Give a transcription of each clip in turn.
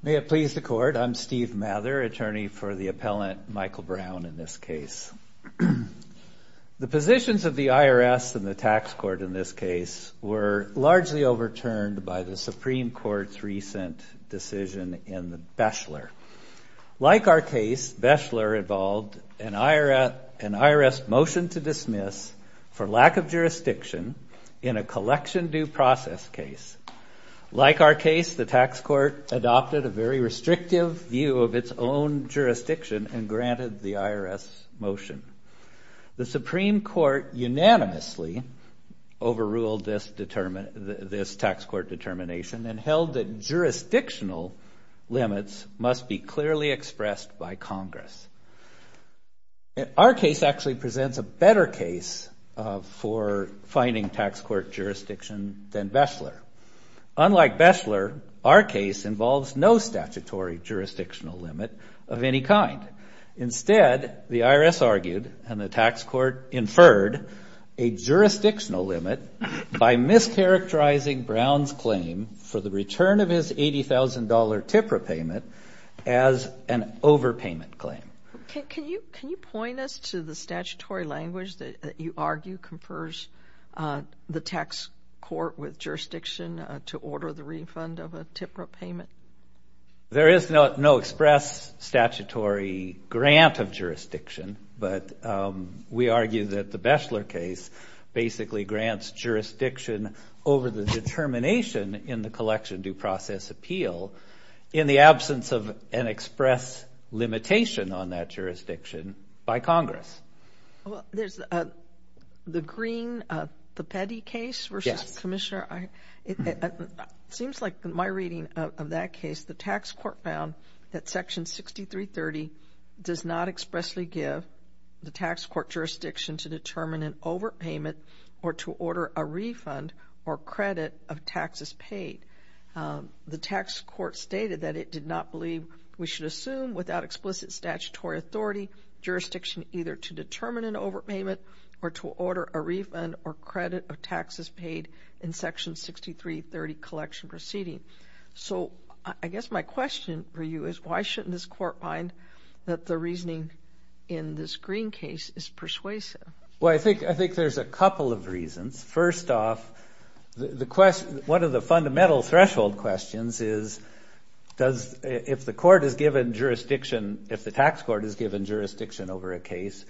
May it please the Court, I'm Steve Mather, attorney for the appellant Michael Brown in this case. The positions of the IRS and the Tax Court in this case were largely overturned by the Supreme Court's recent decision in Beshler. Like our case, Beshler involved an IRS motion to dismiss for lack of jurisdiction in a collection due process case. Like our case, the Tax Court adopted a very restrictive view of its own jurisdiction and granted the IRS motion. The Supreme Court unanimously overruled this tax court determination and held that jurisdictional limits must be clearly expressed by Congress. Our case actually presents a better case for finding tax court jurisdiction than Beshler. Unlike Beshler, our case involves no statutory jurisdictional limit of any kind. Instead, the IRS argued and the Tax Court inferred a jurisdictional limit by mischaracterizing Brown's claim for the return of his $80,000 tip repayment as an overpayment claim. Can you point us to the statutory language that you argue confers the Tax Court with jurisdiction to order the refund of a tip repayment? There is no express statutory grant of jurisdiction, but we argue that the Beshler case basically grants jurisdiction over the determination in the collection due process appeal in the absence of an express limitation on that jurisdiction by Congress. Well, there's the Green-Papetti case versus Commissioner. It seems like in my reading of that case, the Tax Court found that Section 6330 does not expressly give the Tax Court jurisdiction to determine an overpayment or to order a refund or credit of taxes paid. The Tax Court stated that it did not believe we should assume without explicit statutory authority jurisdiction either to determine an overpayment or to order a refund or credit of taxes paid in Section 6330 collection proceeding. So I guess my question for you is why shouldn't this Court find that the reasoning in this Green case is persuasive? Well, I think there's a couple of reasons. First off, one of the fundamental threshold questions is if the Tax Court is given jurisdiction over a case,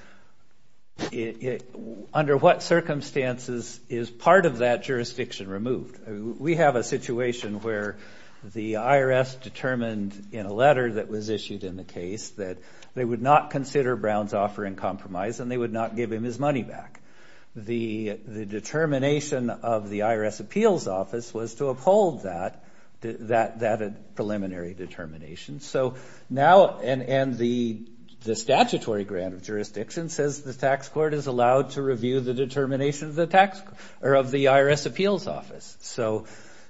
under what circumstances is part of that jurisdiction removed? We have a situation where the IRS determined in a letter that was issued in the case that they would not consider Brown's offer in compromise and they would not give him his money back. The determination of the IRS Appeals Office was to uphold that preliminary determination. So now – and the statutory grant of jurisdiction says the Tax Court is allowed to review the determination of the IRS Appeals Office.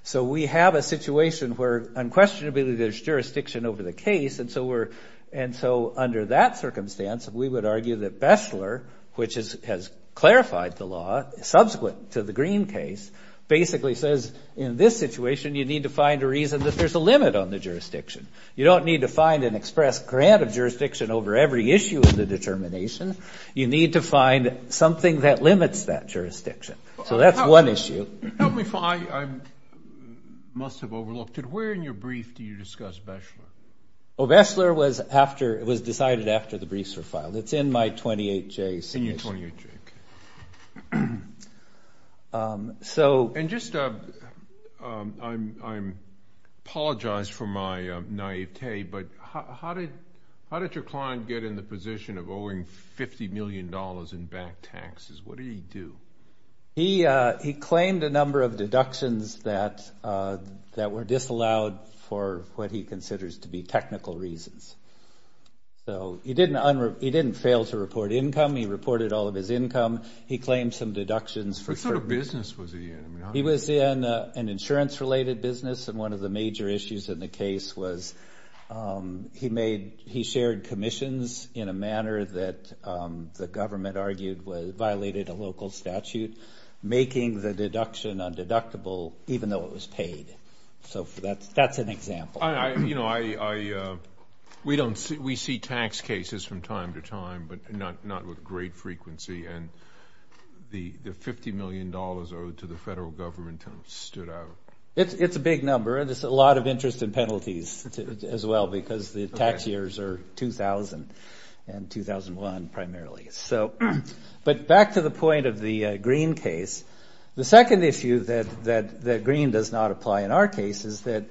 So we have a situation where unquestionably there's jurisdiction over the case and so under that circumstance, we would argue that Bestler, which has clarified the law subsequent to the Green case, basically says in this situation you need to find a reason that there's a limit on the jurisdiction. You don't need to find an express grant of jurisdiction over every issue of the determination. You need to find something that limits that jurisdiction. So that's one issue. Help me – I must have overlooked it. Where in your brief do you discuss Bestler? Well, Bestler was decided after the briefs were filed. It's in my 28-J submission. In your 28-J, okay. So – And just – I apologize for my naivete, but how did your client get in the position of owing $50 million in back taxes? What did he do? He claimed a number of deductions that were disallowed for what he considers to be technical reasons. So he didn't fail to report income. He reported all of his income. He claimed some deductions for – What sort of business was he in? He was in an insurance-related business, and one of the major issues in the case was he made – he shared commissions in a manner that the government argued violated a local statute, making the deduction undeductible even though it was paid. So that's an example. You know, I – we don't – we see tax cases from time to time, but not with great frequency. And the $50 million owed to the federal government stood out. It's a big number, and it's a lot of interest and penalties as well because the tax years are 2000 and 2001 primarily. So – but back to the point of the Greene case, the second issue that Greene does not apply in our case is that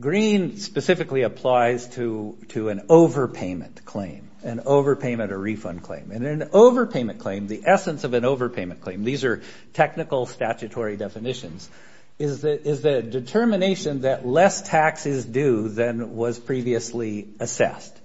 Greene specifically applies to an overpayment claim, an overpayment or refund claim. And an overpayment claim, the essence of an overpayment claim – these are technical statutory definitions – is the determination that less tax is due than was previously assessed.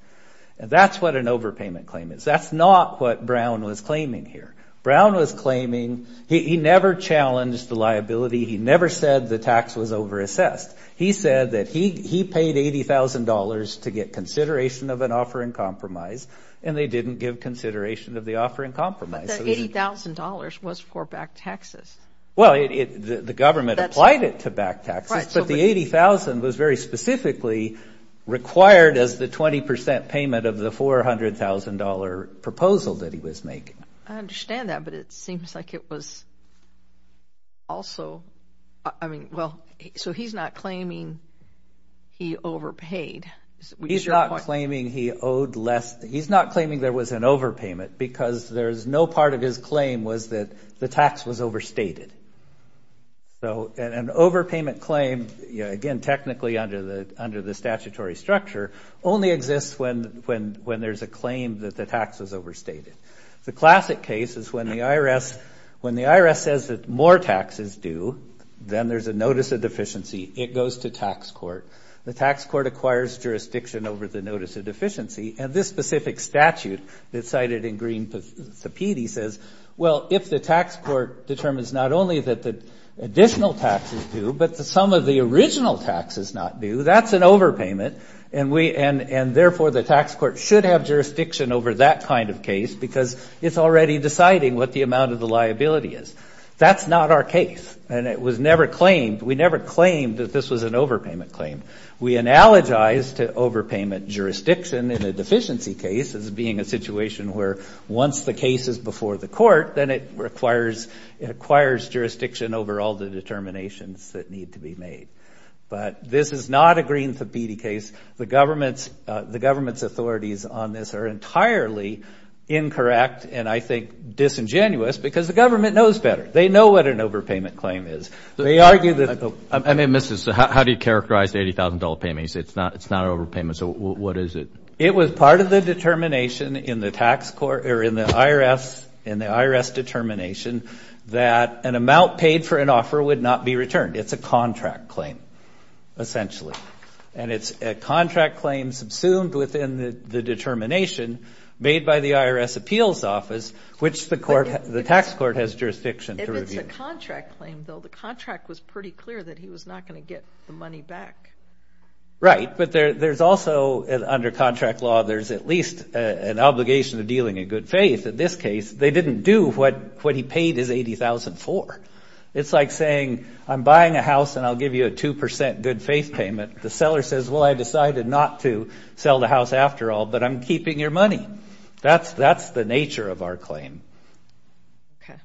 And that's what an overpayment claim is. That's not what Brown was claiming here. Brown was claiming – he never challenged the liability. He never said the tax was overassessed. He said that he paid $80,000 to get consideration of an offer in compromise, and they didn't give consideration of the offer in compromise. But the $80,000 was for back taxes. Well, the government applied it to back taxes, but the $80,000 was very specifically required as the 20% payment of the $400,000 proposal that he was making. I understand that, but it seems like it was also – I mean, well, so he's not claiming he overpaid. He's not claiming he owed less – he's not claiming there was an overpayment because there's no part of his claim was that the tax was overstated. So an overpayment claim, again, technically under the statutory structure, only exists when there's a claim that the tax was overstated. The classic case is when the IRS says that more tax is due, then there's a notice of deficiency. It goes to tax court. The tax court acquires jurisdiction over the notice of deficiency, and this specific statute that's cited in Green-Sapiti says, well, if the tax court determines not only that the additional tax is due, but the sum of the original tax is not due, that's an overpayment, and therefore the tax court should have jurisdiction over that kind of case because it's already deciding what the amount of the liability is. That's not our case, and it was never claimed – we never claimed that this was an overpayment claim. We analogized to overpayment jurisdiction in a deficiency case as being a situation where once the case is before the court, then it requires jurisdiction over all the determinations that need to be made. But this is not a Green-Sapiti case. The government's authorities on this are entirely incorrect and I think disingenuous because the government knows better. They know what an overpayment claim is. They argue that – I may have missed this. How do you characterize the $80,000 payment? You said it's not an overpayment, so what is it? It was part of the determination in the IRS determination that an amount paid for an offer would not be returned. It's a contract claim, essentially, and it's a contract claim subsumed within the determination made by the IRS appeals office, which the tax court has jurisdiction to review. But it's a contract claim, Bill. The contract was pretty clear that he was not going to get the money back. Right, but there's also, under contract law, there's at least an obligation to dealing in good faith. In this case, they didn't do what he paid his $80,000 for. It's like saying I'm buying a house and I'll give you a 2% good faith payment. The seller says, well, I decided not to sell the house after all, but I'm keeping your money. That's the nature of our claim. Okay.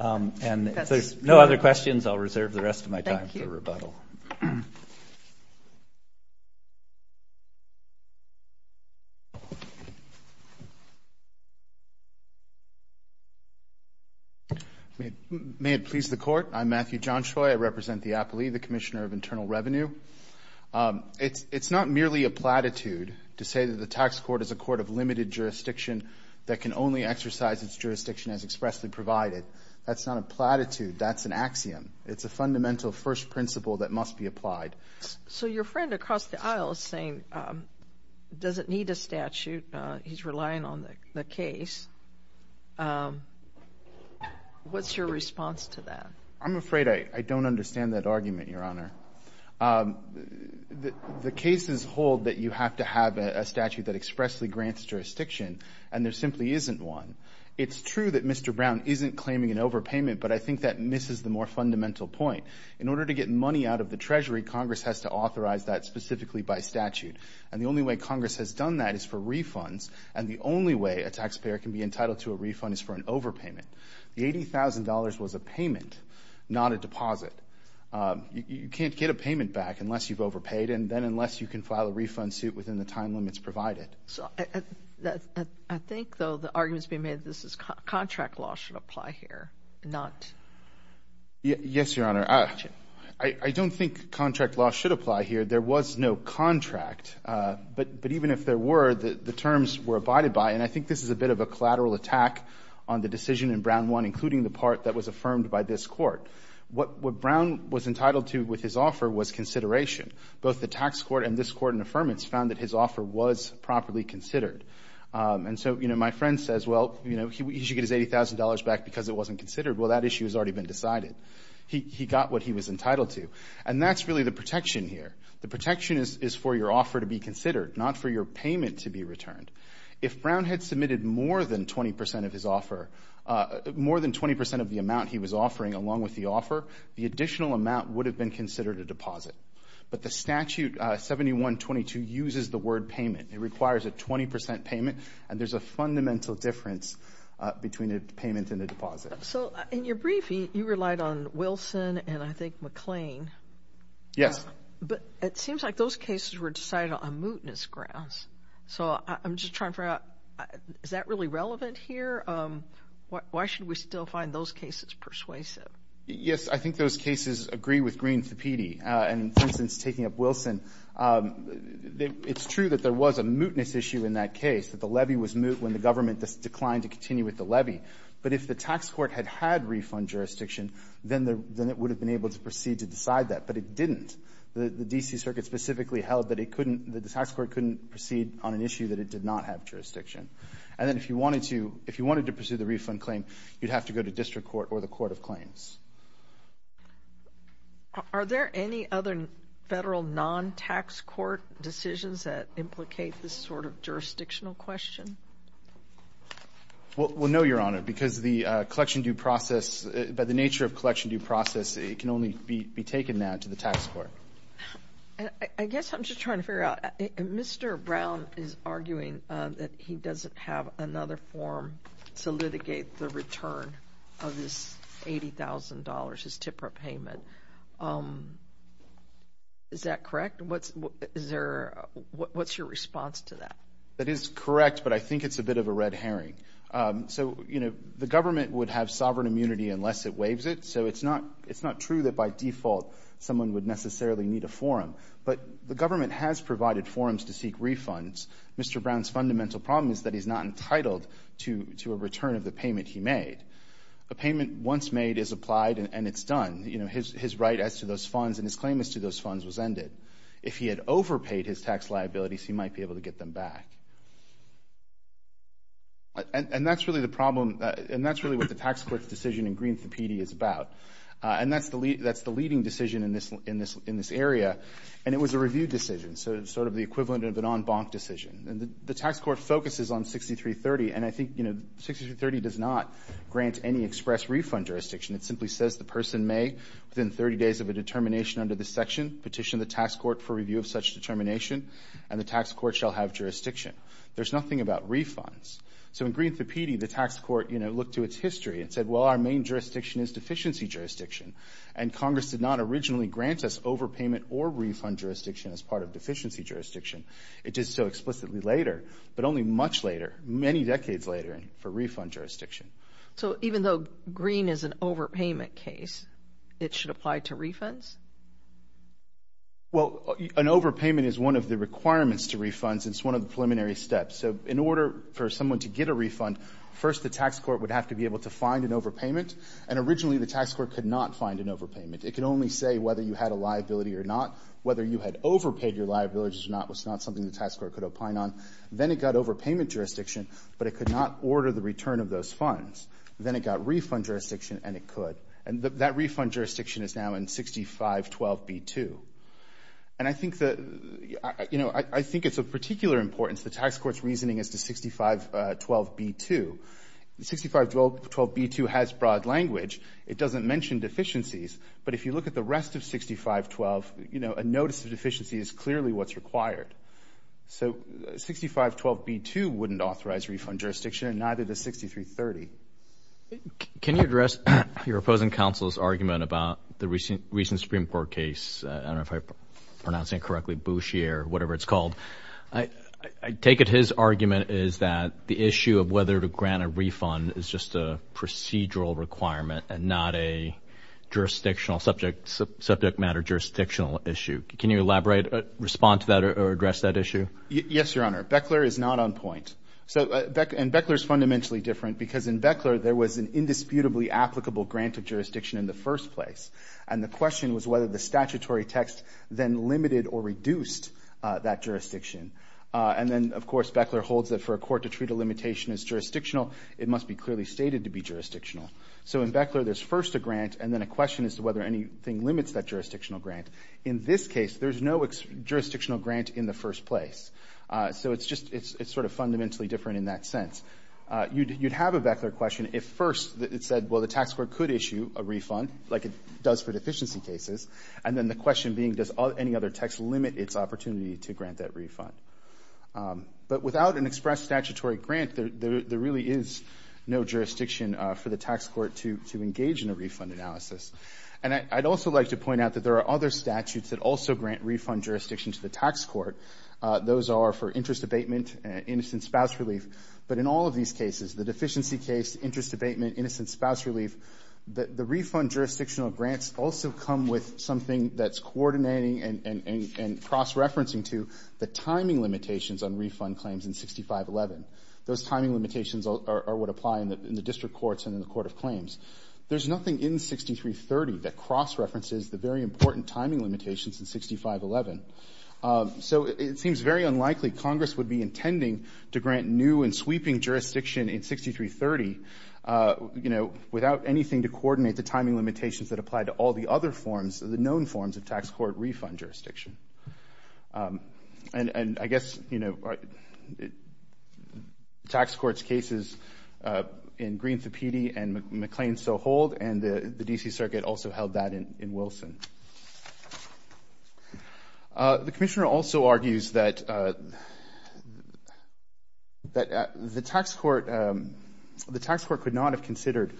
And if there's no other questions, I'll reserve the rest of my time for rebuttal. Thank you. May it please the Court. I'm Matthew Johnshoy. I represent the APLE, the Commissioner of Internal Revenue. It's not merely a platitude to say that the tax court is a court of limited jurisdiction that can only exercise its jurisdiction as expressly provided. That's not a platitude. That's an axiom. It's a fundamental first principle that must be applied. So your friend across the aisle is saying it doesn't need a statute. He's relying on the case. What's your response to that? I'm afraid I don't understand that argument, Your Honor. The cases hold that you have to have a statute that expressly grants jurisdiction, and there simply isn't one. It's true that Mr. Brown isn't claiming an overpayment, but I think that misses the more fundamental point. In order to get money out of the Treasury, Congress has to authorize that specifically by statute. And the only way Congress has done that is for refunds, and the only way a taxpayer can be entitled to a refund is for an overpayment. The $80,000 was a payment, not a deposit. You can't get a payment back unless you've overpaid and then unless you can file a refund suit within the time limits provided. I think, though, the argument is being made that this is contract law should apply here, not. Yes, Your Honor. I don't think contract law should apply here. There was no contract. But even if there were, the terms were abided by, and I think this is a bit of a collateral attack on the decision in Brown 1, including the part that was affirmed by this Court. What Brown was entitled to with his offer was consideration. Both the tax court and this Court in affirmance found that his offer was properly considered. And so, you know, my friend says, well, you know, he should get his $80,000 back because it wasn't considered. Well, that issue has already been decided. He got what he was entitled to. And that's really the protection here. The protection is for your offer to be considered, not for your payment to be returned. If Brown had submitted more than 20% of his offer, more than 20% of the amount he was offering along with the offer, the additional amount would have been considered a deposit. But the statute 7122 uses the word payment. It requires a 20% payment, and there's a fundamental difference between a payment and a deposit. So in your briefing, you relied on Wilson and I think McLean. Yes. But it seems like those cases were decided on mootness grounds. So I'm just trying to figure out, is that really relevant here? Why should we still find those cases persuasive? Yes, I think those cases agree with Green Thapiti. And, for instance, taking up Wilson, it's true that there was a mootness issue in that case, that the levy was moot when the government declined to continue with the levy. But if the tax court had had refund jurisdiction, then it would have been able to proceed to decide that. But it didn't. The D.C. Circuit specifically held that the tax court couldn't proceed on an issue that it did not have jurisdiction. And then if you wanted to pursue the refund claim, you'd have to go to district court or the court of claims. Are there any other federal non-tax court decisions that implicate this sort of jurisdictional question? Well, no, Your Honor, because the collection due process, by the nature of collection due process, it can only be taken now to the tax court. I guess I'm just trying to figure out, Mr. Brown is arguing that he doesn't have another form to litigate the return of this $80,000, his TIPRA payment. Is that correct? What's your response to that? That is correct, but I think it's a bit of a red herring. So, you know, the government would have sovereign immunity unless it waives it. So it's not true that by default someone would necessarily need a forum. But the government has provided forums to seek refunds. Mr. Brown's fundamental problem is that he's not entitled to a return of the payment he made. A payment once made is applied and it's done. You know, his right as to those funds and his claim as to those funds was ended. If he had overpaid his tax liabilities, he might be able to get them back. And that's really the problem. And that's really what the tax court's decision in Greenfield PD is about. And that's the leading decision in this area. And it was a review decision, so sort of the equivalent of an en banc decision. And the tax court focuses on 6330, and I think, you know, 6330 does not grant any express refund jurisdiction. It simply says the person may, within 30 days of a determination under this section, petition the tax court for review of such determination, and the tax court shall have jurisdiction. There's nothing about refunds. So in Greenfield PD, the tax court, you know, looked to its history and said, well, our main jurisdiction is deficiency jurisdiction, and Congress did not originally grant us overpayment or refund jurisdiction as part of deficiency jurisdiction. It did so explicitly later, but only much later, many decades later, for refund jurisdiction. So even though green is an overpayment case, it should apply to refunds? Well, an overpayment is one of the requirements to refunds. It's one of the preliminary steps. So in order for someone to get a refund, first the tax court would have to be able to find an overpayment, and originally the tax court could not find an overpayment. It could only say whether you had a liability or not. Whether you had overpaid your liabilities or not was not something the tax court could opine on. Then it got overpayment jurisdiction, but it could not order the return of those funds. Then it got refund jurisdiction, and it could. And that refund jurisdiction is now in 6512B2. And I think it's of particular importance the tax court's reasoning as to 6512B2. 6512B2 has broad language. It doesn't mention deficiencies, but if you look at the rest of 6512, a notice of deficiency is clearly what's required. So 6512B2 wouldn't authorize refund jurisdiction, and neither does 6330. Can you address your opposing counsel's argument about the recent Supreme Court case? I don't know if I'm pronouncing it correctly, Boucher, whatever it's called. I take it his argument is that the issue of whether to grant a refund is just a procedural requirement and not a jurisdictional, subject matter jurisdictional issue. Can you elaborate, respond to that, or address that issue? Yes, Your Honor. Beckler is not on point. And Beckler is fundamentally different because in Beckler, there was an indisputably applicable grant of jurisdiction in the first place. And the question was whether the statutory text then limited or reduced that jurisdiction. And then, of course, Beckler holds that for a court to treat a limitation as jurisdictional, it must be clearly stated to be jurisdictional. So in Beckler, there's first a grant, and then a question as to whether anything limits that jurisdictional grant. In this case, there's no jurisdictional grant in the first place. So it's just, it's sort of fundamentally different in that sense. You'd have a Beckler question if first it said, well, the tax court could issue a refund, like it does for deficiency cases. And then the question being, does any other text limit its opportunity to grant that refund? But without an express statutory grant, there really is no jurisdiction for the tax court to engage in a refund analysis. And I'd also like to point out that there are other statutes that also grant refund jurisdiction to the tax court. Those are for interest abatement, innocent spouse relief. But in all of these cases, the deficiency case, interest abatement, innocent spouse relief, the refund jurisdictional grants also come with something that's coordinating and cross-referencing to the timing limitations on refund claims in 6511. Those timing limitations are what apply in the district courts and in the court of claims. There's nothing in 6330 that cross-references the very important timing limitations in 6511. So it seems very unlikely Congress would be intending to grant new and sweeping jurisdiction in 6330, you know, without anything to coordinate the timing limitations that apply to all the other forms, the known forms of tax court refund jurisdiction. And I guess, you know, tax court's cases in Green-Thapedi and McLean-Sohold and the D.C. Circuit also held that in Wilson. The commissioner also argues that the tax court could not have considered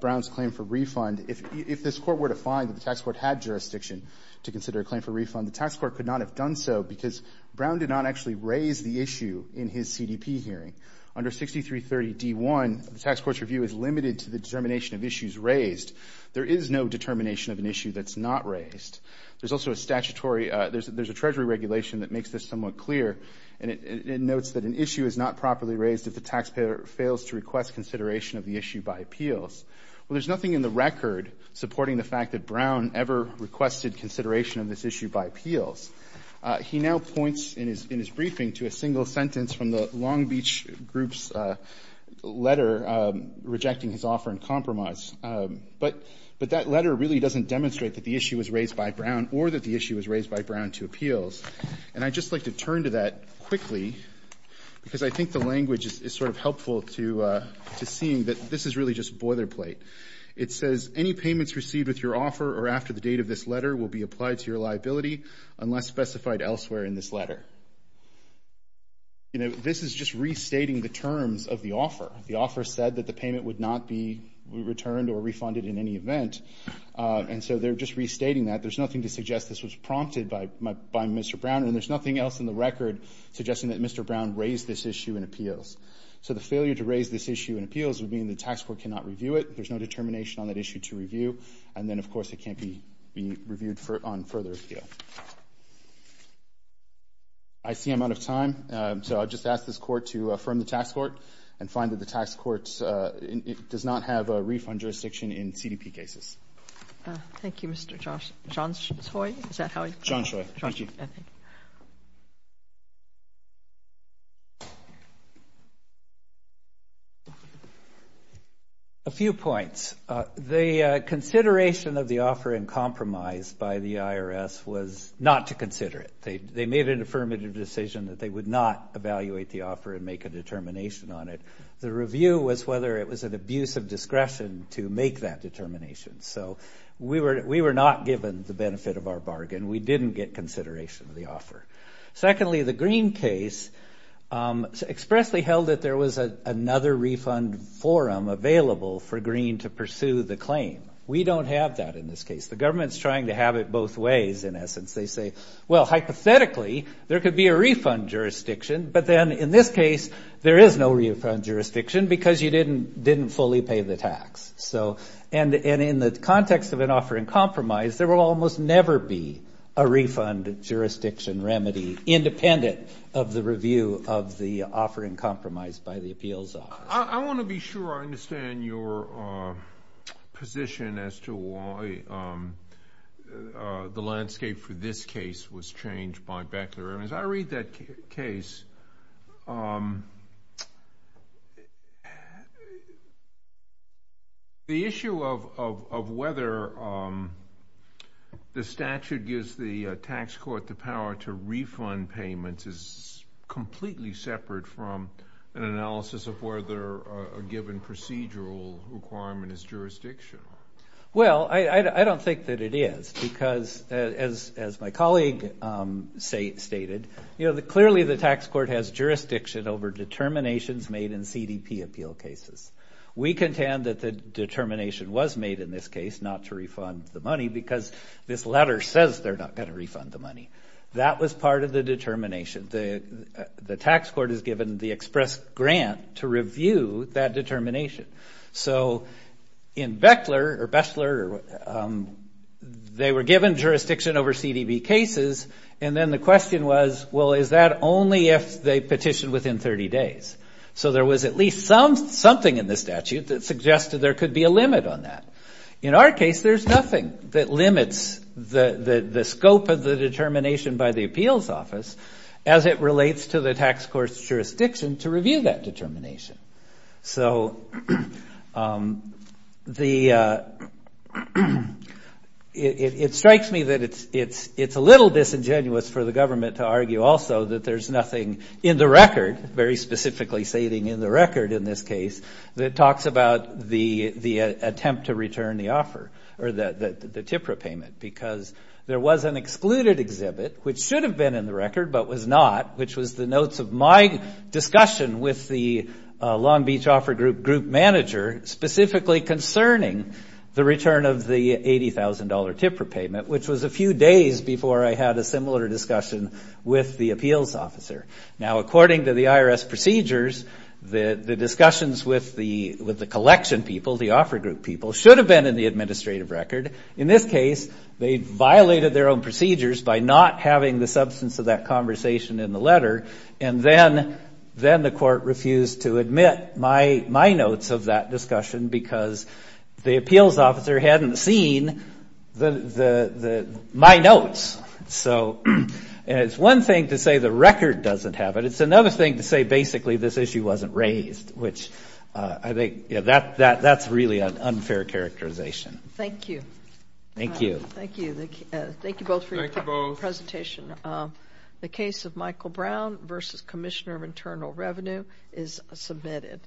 Brown's claim for refund. If this court were to find that the tax court had jurisdiction to consider a claim for refund, the tax court could not have done so because Brown did not actually raise the issue in his CDP hearing. Under 6330 D.1, the tax court's review is limited to the determination of issues raised. There is no determination of an issue that's not raised. There's also a statutory – there's a Treasury regulation that makes this somewhat clear, and it notes that an issue is not properly raised if the taxpayer fails to request consideration of the issue by appeals. Well, there's nothing in the record supporting the fact that Brown ever requested consideration of this issue by appeals. He now points in his briefing to a single sentence from the Long Beach Group's letter rejecting his offer in compromise. But that letter really doesn't demonstrate that the issue was raised by Brown or that the issue was raised by Brown to appeals. And I'd just like to turn to that quickly because I think the language is sort of helpful to seeing that this is really just boilerplate. It says, any payments received with your offer or after the date of this letter will be applied to your liability unless specified elsewhere in this letter. You know, this is just restating the terms of the offer. The offer said that the payment would not be returned or refunded in any event. And so they're just restating that. There's nothing to suggest this was prompted by Mr. Brown, and there's nothing else in the record suggesting that Mr. Brown raised this issue in appeals. So the failure to raise this issue in appeals would mean the tax court cannot review it. There's no determination on that issue to review. And then, of course, it can't be reviewed on further appeal. I see I'm out of time, so I'll just ask this court to affirm the tax court and find that the tax court does not have a refund jurisdiction in CDP cases. Thank you, Mr. Johnshoy. Is that how I pronounce it? Johnshoy. Thank you. A few points. The consideration of the offer in compromise by the IRS was not to consider it. They made an affirmative decision that they would not evaluate the offer and make a determination on it. The review was whether it was an abuse of discretion to make that determination. So we were not given the benefit of our bargain. We didn't get consideration of the offer. Secondly, the Green case expressly held that there was another refund forum available for Green to pursue the claim. We don't have that in this case. The government's trying to have it both ways, in essence. They say, well, hypothetically, there could be a refund jurisdiction, but then in this case there is no refund jurisdiction because you didn't fully pay the tax. And in the context of an offer in compromise, there will almost never be a refund jurisdiction remedy independent of the review of the offer in compromise by the appeals office. I want to be sure I understand your position as to why the landscape for this case was changed by Beckler. As I read that case, the issue of whether the statute gives the tax court the power to refund payments is completely separate from an analysis of whether a given procedural requirement is jurisdictional. Well, I don't think that it is because as my colleague stated, clearly the tax court has jurisdiction over determinations made in CDP appeal cases. We contend that the determination was made in this case not to refund the money because this letter says they're not going to refund the money. That was part of the determination. The tax court is given the express grant to review that determination. So in Beckler, they were given jurisdiction over CDP cases, and then the question was, well, is that only if they petition within 30 days? So there was at least something in the statute that suggested there could be a limit on that. In our case, there's nothing that limits the scope of the determination by the appeals office as it relates to the tax court's jurisdiction to review that determination. So it strikes me that it's a little disingenuous for the government to argue also that there's nothing in the record, very specifically stating in the record in this case, that talks about the attempt to return the offer or the TIPRA payment because there was an excluded exhibit, which should have been in the record but was not, which was the notes of my discussion with the Long Beach Offer Group group manager, specifically concerning the return of the $80,000 TIPRA payment, which was a few days before I had a similar discussion with the appeals officer. Now, according to the IRS procedures, the discussions with the collection people, the offer group people, should have been in the administrative record. In this case, they violated their own procedures by not having the substance of that conversation in the letter, and then the court refused to admit my notes of that discussion because the appeals officer hadn't seen my notes. So it's one thing to say the record doesn't have it. It's another thing to say basically this issue wasn't raised, which I think that's really an unfair characterization. Thank you. Thank you. Thank you. Thank you both for your presentation. The case of Michael Brown v. Commissioner of Internal Revenue is submitted.